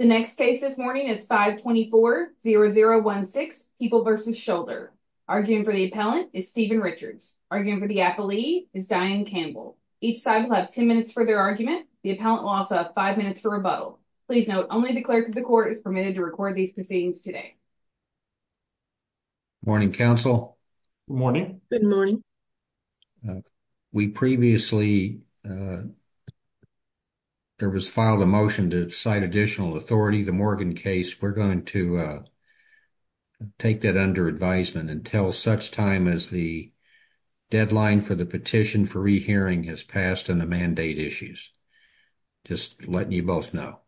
The next case this morning is 524-0016, People v. Shoulder. Arguing for the appellant is Stephen Richards. Arguing for the appellee is Diane Campbell. Each side will have 10 minutes for their argument. The appellant will also have 5 minutes for rebuttal. Please note, only the clerk of the court is permitted to record these proceedings today. Morning, counsel. Morning. Good morning. We previously filed a motion to cite additional authority. The Morgan case, we're going to take that under advisement until such time as the deadline for the petition for rehearing has passed and the mandate issues. Just letting you both know.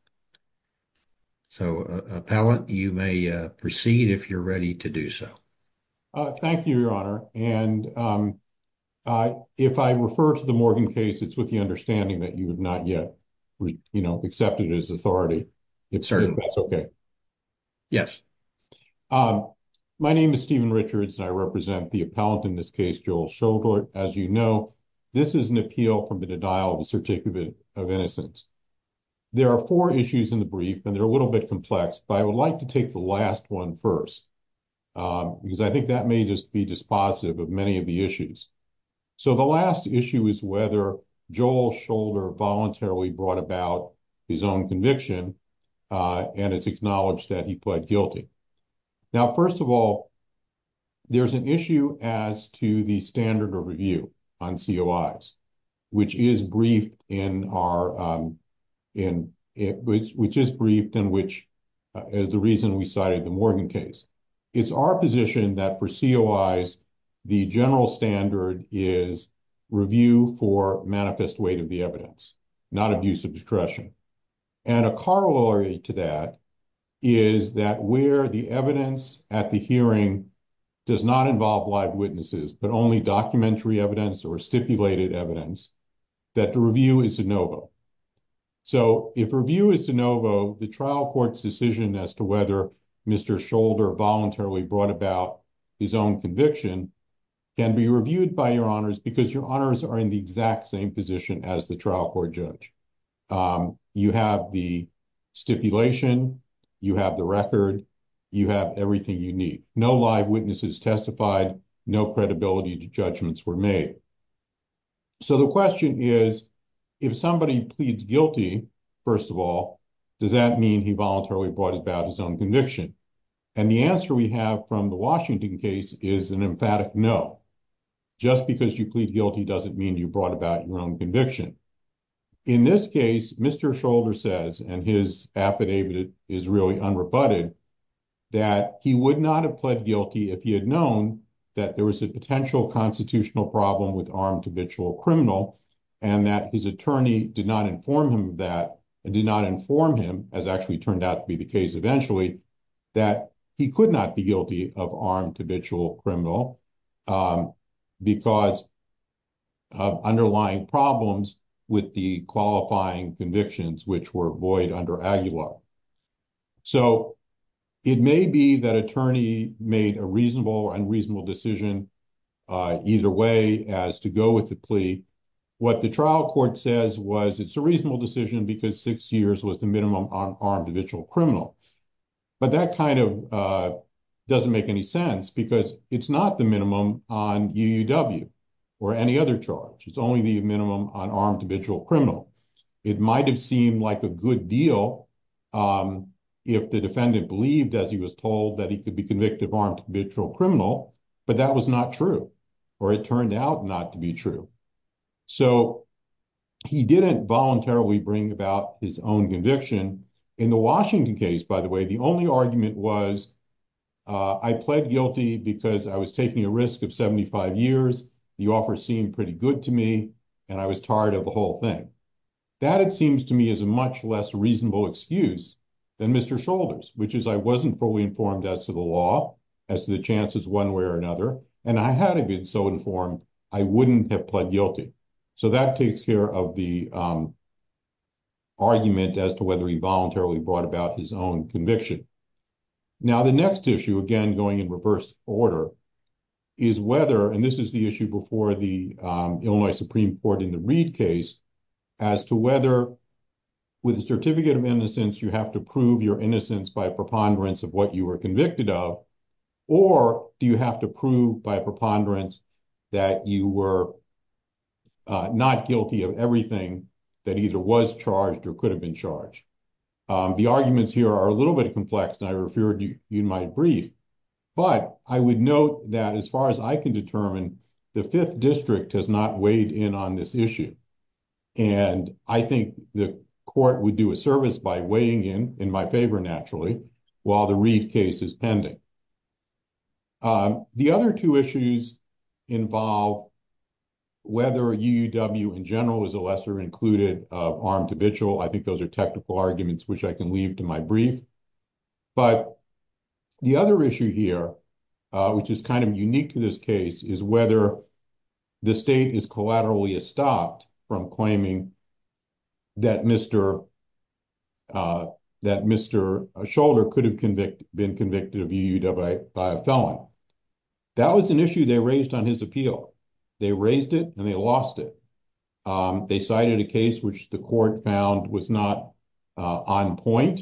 So, appellant, you may proceed if you're ready to do so. Thank you, Your Honor. And if I refer to the Morgan case, it's with the understanding that you have not yet, you know, accepted as authority. If that's okay. Yes. My name is Stephen Richards and I represent the appellant in this case, Joel Shoulder. As you know, this is an appeal from the denial of the certificate of innocence. There are four issues in the brief and they're a little bit complex, but I would like to take the last one first. Because I think that may just be dispositive of many of the issues. So, the last issue is whether Joel Shoulder voluntarily brought about his own conviction and it's acknowledged that he pled guilty. Now, first of all, there's an issue as to the standard of review on COIs, which is briefed in our, which is briefed and which is the reason we cited the Morgan case. It's our position that for COIs, the general standard is review for manifest weight of the evidence, not abuse of discretion. And a corollary to that is that where the evidence at the hearing does not involve live witnesses, but only documentary evidence or stipulated evidence, that the review is de novo. So, if review is de novo, the trial court's decision as to whether Mr. Shoulder voluntarily brought about his own conviction can be reviewed by your honors because your honors are in the exact same position as the trial court judge. You have the stipulation, you have the record, you have everything you need. No live witnesses testified, no credibility judgments were made. So, the question is, if somebody pleads guilty, first of all, does that mean he voluntarily brought about his own conviction? And the answer we have from the Washington case is an emphatic no. Just because you plead guilty doesn't mean you brought about your own conviction. In this case, Mr. Shoulder says, and his affidavit is really unrebutted, that he would not have pled guilty if he had known that there was a potential constitutional problem with armed habitual criminal, and that his attorney did not inform him of that, did not inform him, as actually turned out to be the case eventually, that he could not be guilty of armed habitual criminal because of underlying problems with the qualifying convictions, which were void under AGULA. So, it may be that attorney made a reasonable and reasonable decision either way as to go with the plea. What the trial court says was it's a reasonable decision because six years was the minimum on armed habitual criminal. But that kind of doesn't make any sense because it's not the minimum on UUW or any other charge. It's only the minimum on armed habitual criminal. It might have seemed like a good deal if the defendant believed, as he was told, that he could be convicted of armed habitual criminal, but that was not true, or it turned out not to be true. So, he didn't voluntarily bring about his own conviction. In the Washington case, by the way, the only argument was, I pled guilty because I was taking a risk of 75 years, the offer seemed pretty good to me, and I was tired of the whole thing. That, it seems to me, is a much less reasonable excuse than Mr. Shoulders, which is I wasn't fully informed as to the law, as to the chances one way or another, and I hadn't been so informed, I wouldn't have pled guilty. So, that takes care of the argument as to whether he voluntarily brought about his own conviction. Now, the next issue, again, going in reverse order, is whether, and this is the issue before the Illinois Supreme Court in the Reed case, as to whether with a certificate of innocence, you have to prove your innocence by preponderance of what you were convicted of, or do you have to prove by preponderance that you were not guilty of everything that either was charged or could have been charged. The arguments here are a little bit complex, and I feared you might brief, but I would note that as far as I can determine, the Fifth District has not weighed in on this issue. And I think the court would do a service by weighing in, in my favor, naturally, while the Reed case is pending. The other two issues involve whether UUW in general is a lesser included armed habitual. I think those are technical arguments, which I can leave to my brief. But the other issue here, which is kind of unique to this case, is whether the state is collaterally stopped from claiming that Mr. Scholder could have been convicted of UUW by a felon. That was an issue they raised on his appeal. They raised it, and they lost it. They cited a case which the court found was not on point.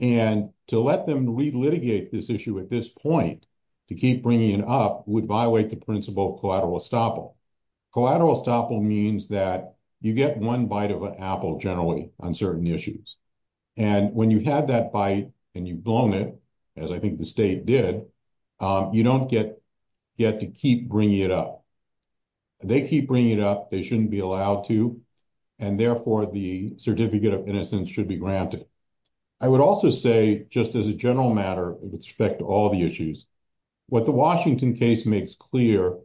And to let them re-litigate this issue at this point, to keep bringing it up, would violate the principle of collateral estoppel. Collateral estoppel means that you get one bite of an apple, generally, on certain issues. And when you had that bite and you've blown it, as I think the state did, you don't get to keep bringing it up. They keep bringing it up. They shouldn't be allowed to. And, therefore, the certificate of innocence should be granted. I would also say, just as a general matter with respect to all the issues, what the Washington case makes clear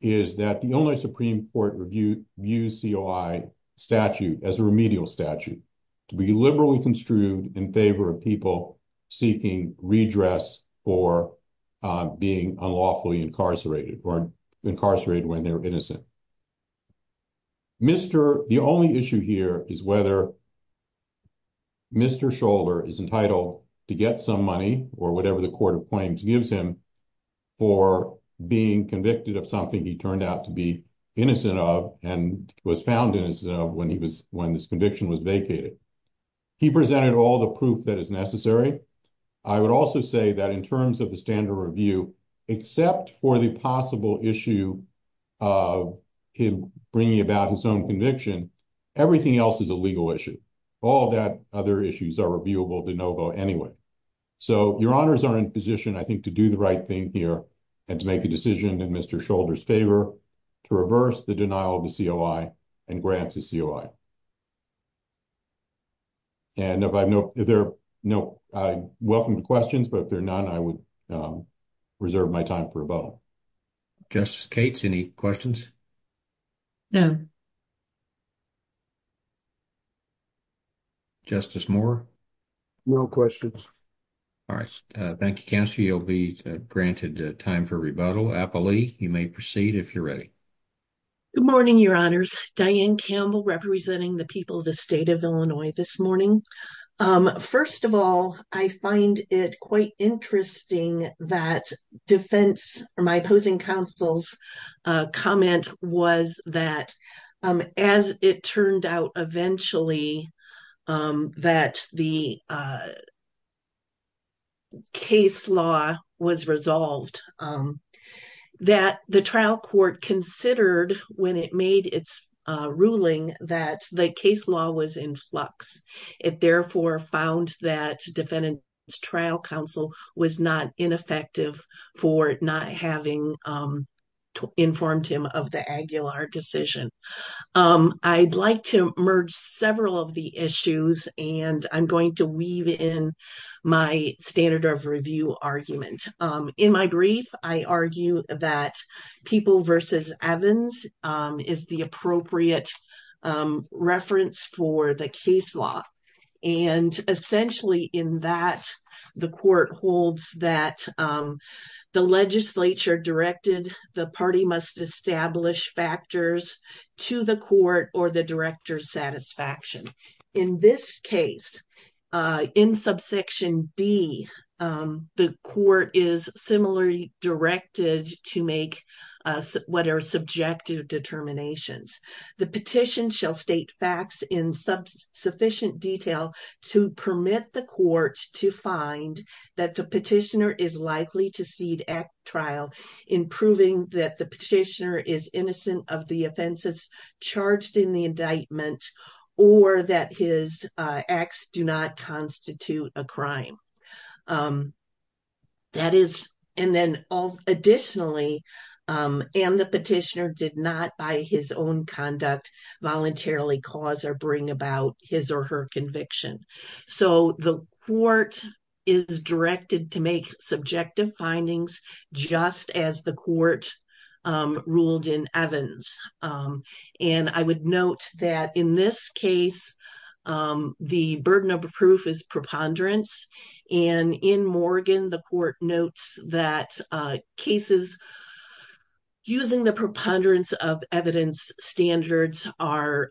is that the only Supreme Court views COI statute as a remedial statute, to be liberally construed in favor of people seeking redress for being unlawfully incarcerated, or incarcerated when they're innocent. The only issue here is whether Mr. Scholder is entitled to get some money, or whatever the court of claims gives him, for being convicted of something he turned out to be innocent of, and was found innocent of when this conviction was vacated. He presented all the proof that is necessary. I would also say that in terms of the standard review, except for the possible issue of him bringing about his own conviction, everything else is a legal issue. All that other issues are reviewable de novo anyway. So, your honors are in position, I think, to do the right thing here and to make a decision in Mr. Scholder's favor to reverse the denial of the COI and grant the COI. And if there are no, I welcome the questions, but if there are none, I would reserve my time for rebuttal. Justice Cates, any questions? No. Justice Moore? No questions. All right. Thank you, Counselor. You'll be granted time for rebuttal. Applee, you may proceed if you're ready. Good morning, your honors. Diane Campbell representing the people of the state of Illinois this morning. First of all, I find it quite interesting that defense or my opposing counsel's comment was that as it turned out eventually that the case law was resolved, that the trial court considered when it made its ruling that the case law was in flux. It therefore found that defendant's trial counsel was not ineffective for not having informed him of the Aguilar decision. I'd like to merge several of the issues, and I'm going to weave in my standard of review argument. In my brief, I argue that People v. Evans is the appropriate reference for the case law. And essentially in that, the court holds that the legislature directed the party must establish factors to the court or the director's satisfaction. In this case, in subsection D, the court is similarly directed to make what are subjective determinations. The petition shall state facts in sufficient detail to permit the court to find that the petitioner is likely to cede at trial in proving that the petitioner is innocent of the offenses charged in the indictment or that his acts do not constitute a crime. Additionally, and the petitioner did not by his own conduct voluntarily cause or bring about his or her conviction. So the court is directed to make subjective findings just as the court ruled in Evans. And I would note that in this case, the burden of proof is preponderance. And in Morgan, the court notes that cases using the preponderance of evidence standards are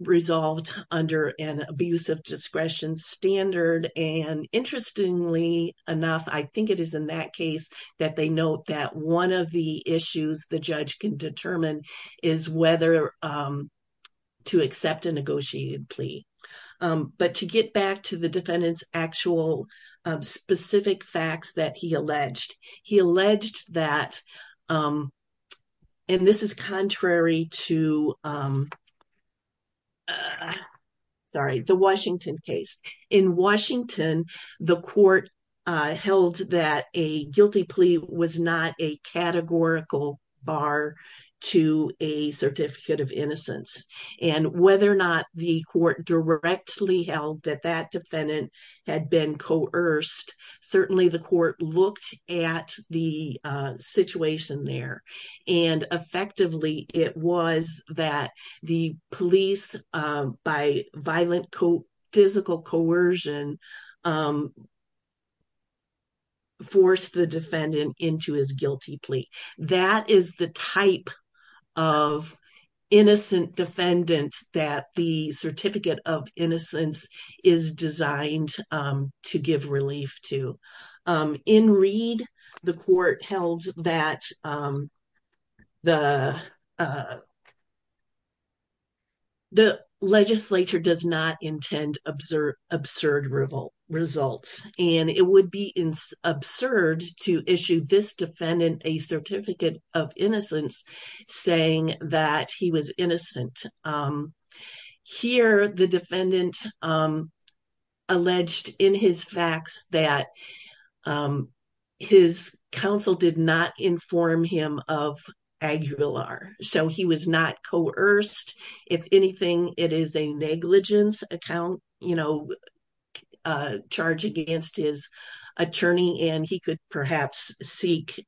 resolved under an abuse of discretion standard. And interestingly enough, I think it is in that case that they note that one of the issues the judge can determine is whether to accept a negotiated plea. But to get back to the defendant's actual specific facts that he alleged, he alleged that, and this is contrary to, sorry, the Washington case. In Washington, the court held that a guilty plea was not a categorical bar to a certificate of innocence and whether or not the court directly held that that defendant had been coerced. Certainly, the court looked at the situation there, and effectively, it was that the police, by violent physical coercion, forced the defendant into his guilty plea. That is the type of innocent defendant that the certificate of innocence is designed to give relief to. In Reed, the court held that the legislature does not intend absurd results. And it would be absurd to issue this defendant a certificate of innocence saying that he was innocent. Here, the defendant alleged in his facts that his counsel did not inform him of Aguilar. So he was not coerced. If anything, it is a negligence charge against his attorney, and he could perhaps seek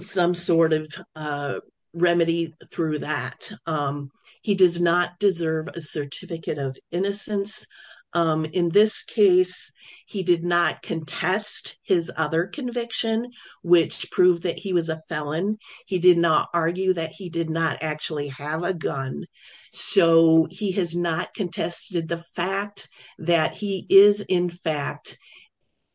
some sort of remedy through that. He does not deserve a certificate of innocence. In this case, he did not contest his other conviction, which proved that he was a felon. He did not argue that he did not actually have a gun. So he has not contested the fact that he is, in fact,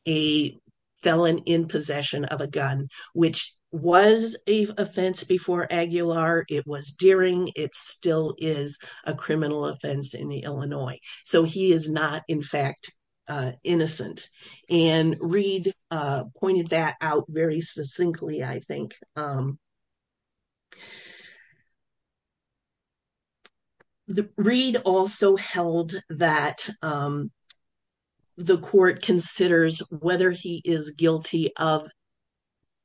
a felon in possession of a gun, which was an offense before Aguilar. It was during. It still is a criminal offense in Illinois. So he is not, in fact, innocent. And Reed pointed that out very succinctly, I think. Reed also held that the court considers whether he is guilty of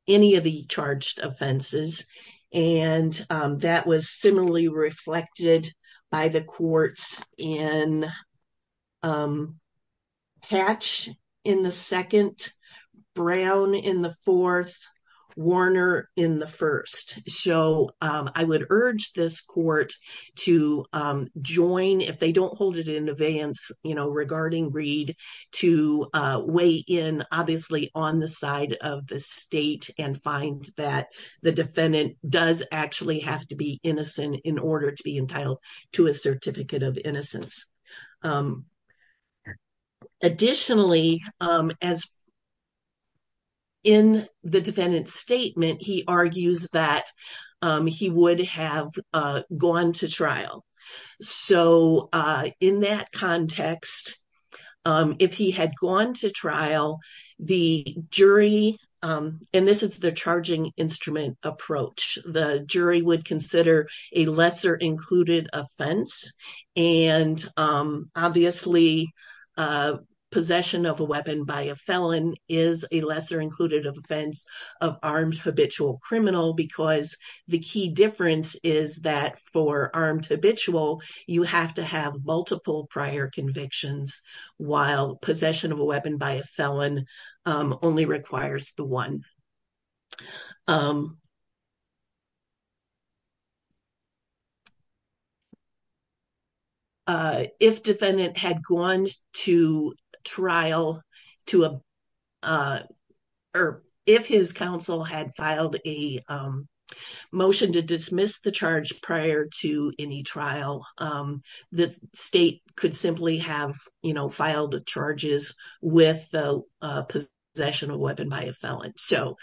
any of the charged offenses. And that was similarly reflected by the courts in Hatch in the second, Brown in the fourth, Warner in the first. So I would urge this court to join if they don't hold it in advance, you know, regarding Reed to weigh in, obviously, on the side of the state and find that the defendant does actually have to be innocent in order to be entitled to a certificate of innocence. Additionally, as in the defendant's statement, he argues that he would have gone to trial. So in that context, if he had gone to trial, the jury and this is the charging instrument approach, the jury would consider a lesser included offense. And obviously, possession of a weapon by a felon is a lesser included offense of armed habitual criminal because the key difference is that for armed habitual, you have to have multiple prior convictions, while possession of a weapon by a felon only requires the one. If defendant had gone to trial to, or if his counsel had filed a motion to dismiss the charge prior to any trial, the state could simply have, you know, filed the charges with possession of a weapon by a felon. So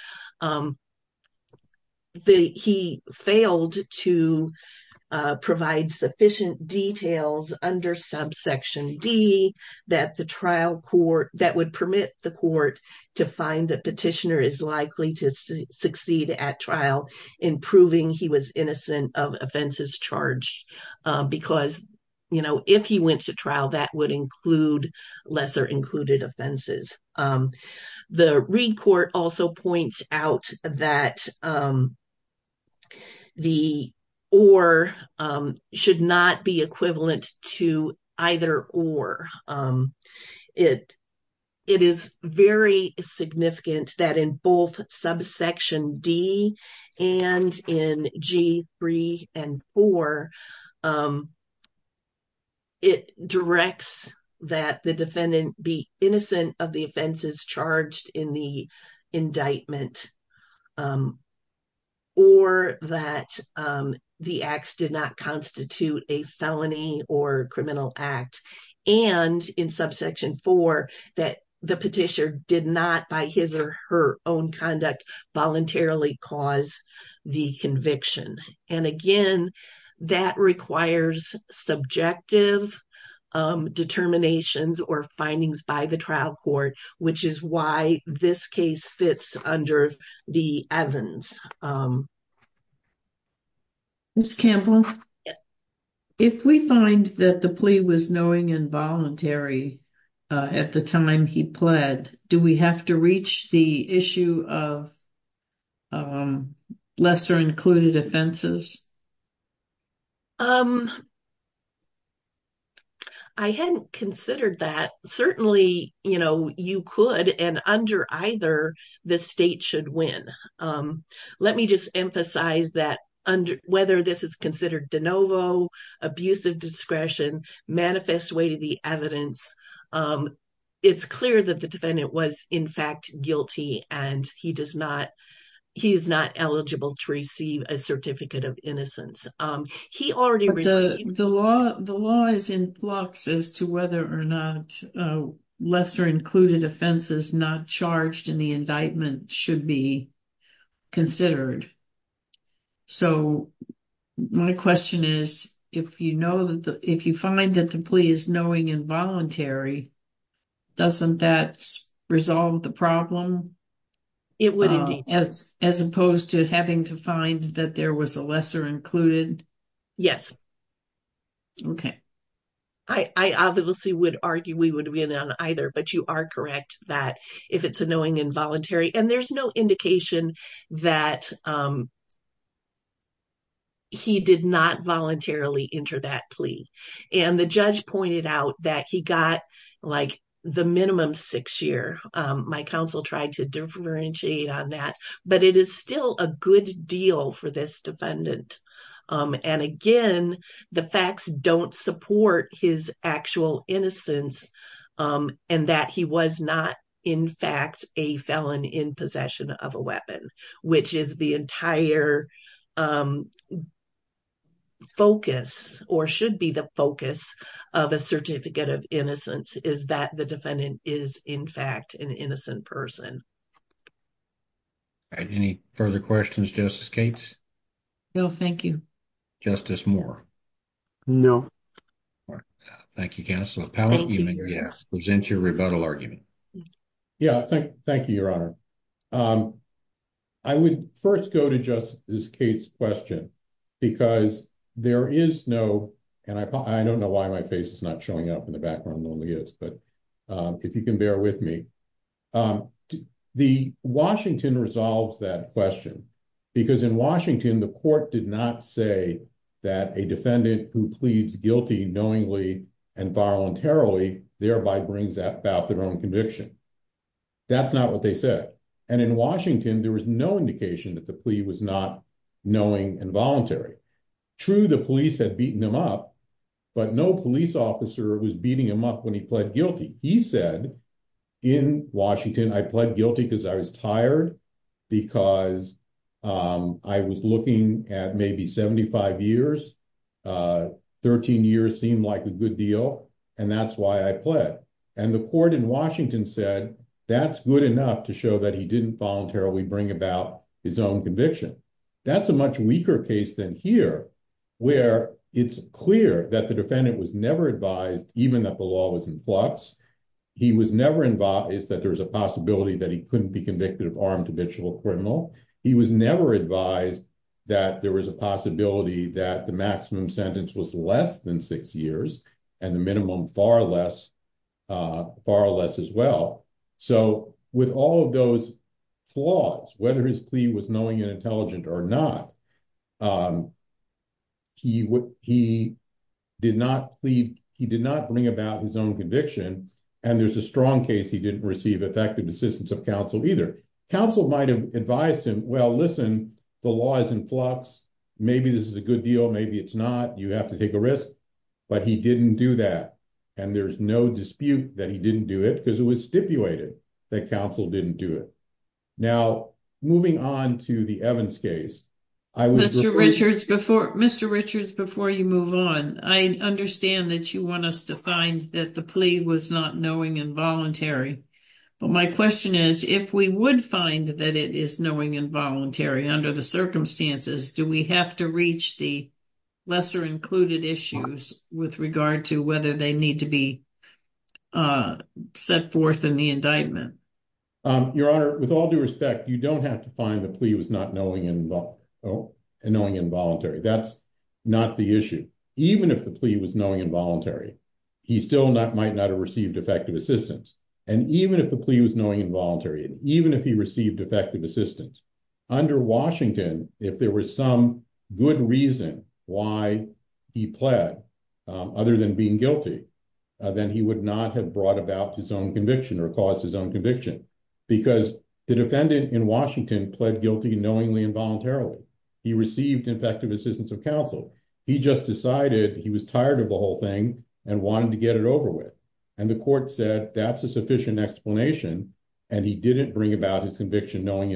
he failed to provide sufficient details under subsection D that the trial court, that would permit the court to find that petitioner is likely to succeed at trial in proving he was innocent of offenses charged because, you know, if he went to trial, that would include lesser included offenses. The Reed court also points out that the or should not be equivalent to either or. It is very significant that in both subsection D and in G3 and 4, it directs that the defendant be innocent of the offenses charged in the indictment. Or that the acts did not constitute a felony or criminal act, and in subsection 4, that the petitioner did not by his or her own conduct voluntarily cause the conviction. And again, that requires subjective determinations or findings by the trial court, which is why this case fits under the Evans. Ms. Campbell, if we find that the plea was knowing involuntary at the time he pled, do we have to reach the issue of lesser included offenses? I hadn't considered that. Certainly, you know, you could and under either the state should win. Let me just emphasize that whether this is considered de novo, abusive discretion, manifest way to the evidence. It's clear that the defendant was, in fact, guilty, and he does not. He is not eligible to receive a certificate of innocence. He already the law. The law is in flux as to whether or not lesser included offenses not charged in the indictment should be considered. So, my question is, if, you know, if you find that the plea is knowing involuntary, doesn't that resolve the problem? It would, as opposed to having to find that there was a lesser included. Yes. Okay. I obviously would argue we would be in on either, but you are correct that if it's a knowing involuntary and there's no indication that. He did not voluntarily enter that plea and the judge pointed out that he got like the minimum 6 year. My counsel tried to differentiate on that, but it is still a good deal for this defendant. And again, the facts don't support his actual innocence and that he was not, in fact, a felon in possession of a weapon, which is the entire. Focus or should be the focus of a certificate of innocence is that the defendant is, in fact, an innocent person. Any further questions, just escape. No, thank you justice more. No, thank you. Cancel. Present your rebuttal argument. Yeah, thank you. Thank you. Your honor. I would 1st, go to just this case question. Because there is no, and I don't know why my face is not showing up in the background only is, but. If you can bear with me. The Washington resolves that question. Because in Washington, the court did not say that a defendant who pleads guilty knowingly and voluntarily, thereby brings up about their own conviction. That's not what they said. And in Washington, there was no indication that the plea was not knowing involuntary. True, the police had beaten him up, but no police officer was beating him up when he pled guilty. He said in Washington, I pled guilty because I was tired. Because I was looking at maybe 75 years. 13 years seemed like a good deal. And that's why I pled. And the court in Washington said that's good enough to show that he didn't voluntarily bring about his own conviction. That's a much weaker case than here, where it's clear that the defendant was never advised, even that the law was in flux. He was never advised that there was a possibility that he couldn't be convicted of armed habitual criminal. He was never advised that there was a possibility that the maximum sentence was less than six years, and the minimum far less, far less as well. So with all of those flaws, whether his plea was knowing and intelligent or not, he did not plead. He did not bring about his own conviction. And there's a strong case he didn't receive effective assistance of counsel either. Counsel might have advised him, well, listen, the law is in flux. Maybe this is a good deal. Maybe it's not. You have to take a risk. But he didn't do that. And there's no dispute that he didn't do it because it was stipulated that counsel didn't do it. Now, moving on to the Evans case. Mr. Richards, before Mr. Richards, before you move on, I understand that you want us to find that the plea was not knowing involuntary. But my question is, if we would find that it is knowing involuntary under the circumstances, do we have to reach the lesser included issues with regard to whether they need to be set forth in the indictment? Your Honor, with all due respect, you don't have to find the plea was not knowing and knowing involuntary. That's not the issue. Even if the plea was knowing involuntary, he still not might not have received effective assistance. And even if the plea was knowing involuntary, even if he received effective assistance under Washington, if there was some good reason why he pled other than being guilty, then he would not have brought about his own conviction or cause his own conviction. Because the defendant in Washington pled guilty knowingly involuntarily. He received effective assistance of counsel. He just decided he was tired of the whole thing and wanted to get it over with. And the court said that's a sufficient explanation. And he didn't bring about his conviction knowingly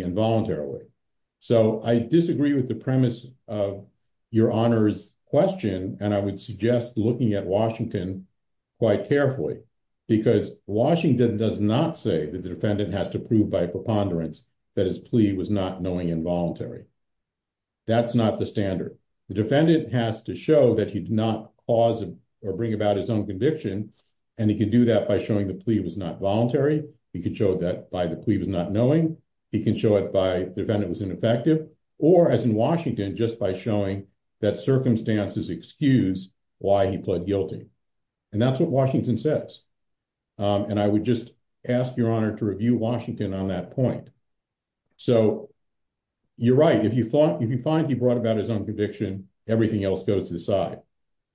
involuntarily. So I disagree with the premise of Your Honor's question, and I would suggest looking at Washington quite carefully. Because Washington does not say that the defendant has to prove by preponderance that his plea was not knowing involuntary. That's not the standard. The defendant has to show that he did not cause or bring about his own conviction. And he could do that by showing the plea was not voluntary. He could show that by the plea was not knowing. He can show it by the defendant was ineffective or, as in Washington, just by showing that circumstances excuse why he pled guilty. And that's what Washington says. And I would just ask Your Honor to review Washington on that point. So you're right. If you find he brought about his own conviction, everything else goes to the side.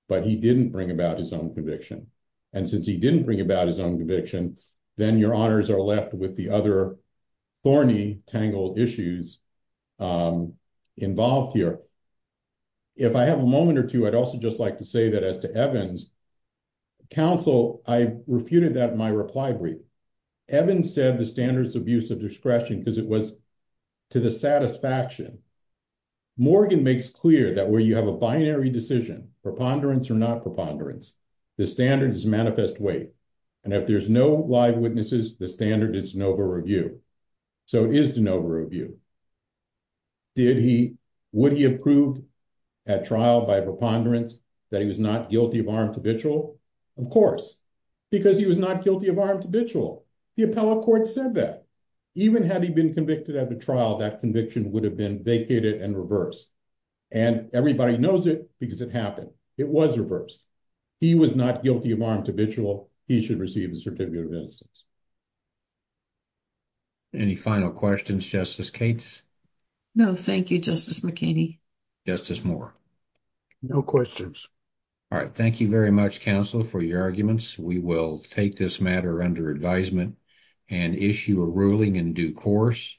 But he didn't bring about his own conviction. And since he didn't bring about his own conviction, then Your Honors are left with the other thorny, tangled issues involved here. If I have a moment or two, I'd also just like to say that as to Evans, counsel, I refuted that in my reply brief. Evans said the standards of use of discretion because it was to the satisfaction. Morgan makes clear that where you have a binary decision, preponderance or not preponderance, the standard is manifest weight. And if there's no live witnesses, the standard is de novo review. So it is de novo review. Would he have proved at trial by preponderance that he was not guilty of armed habitual? Of course, because he was not guilty of armed habitual. The appellate court said that. Even had he been convicted at the trial, that conviction would have been vacated and reversed. And everybody knows it because it happened. It was reversed. He was not guilty of armed habitual. He should receive a certificate of innocence. Any final questions, Justice Cates? No, thank you, Justice McKinney. Justice Moore? No questions. All right. Thank you very much, counsel, for your arguments. We will take this matter under advisement and issue a ruling in due course.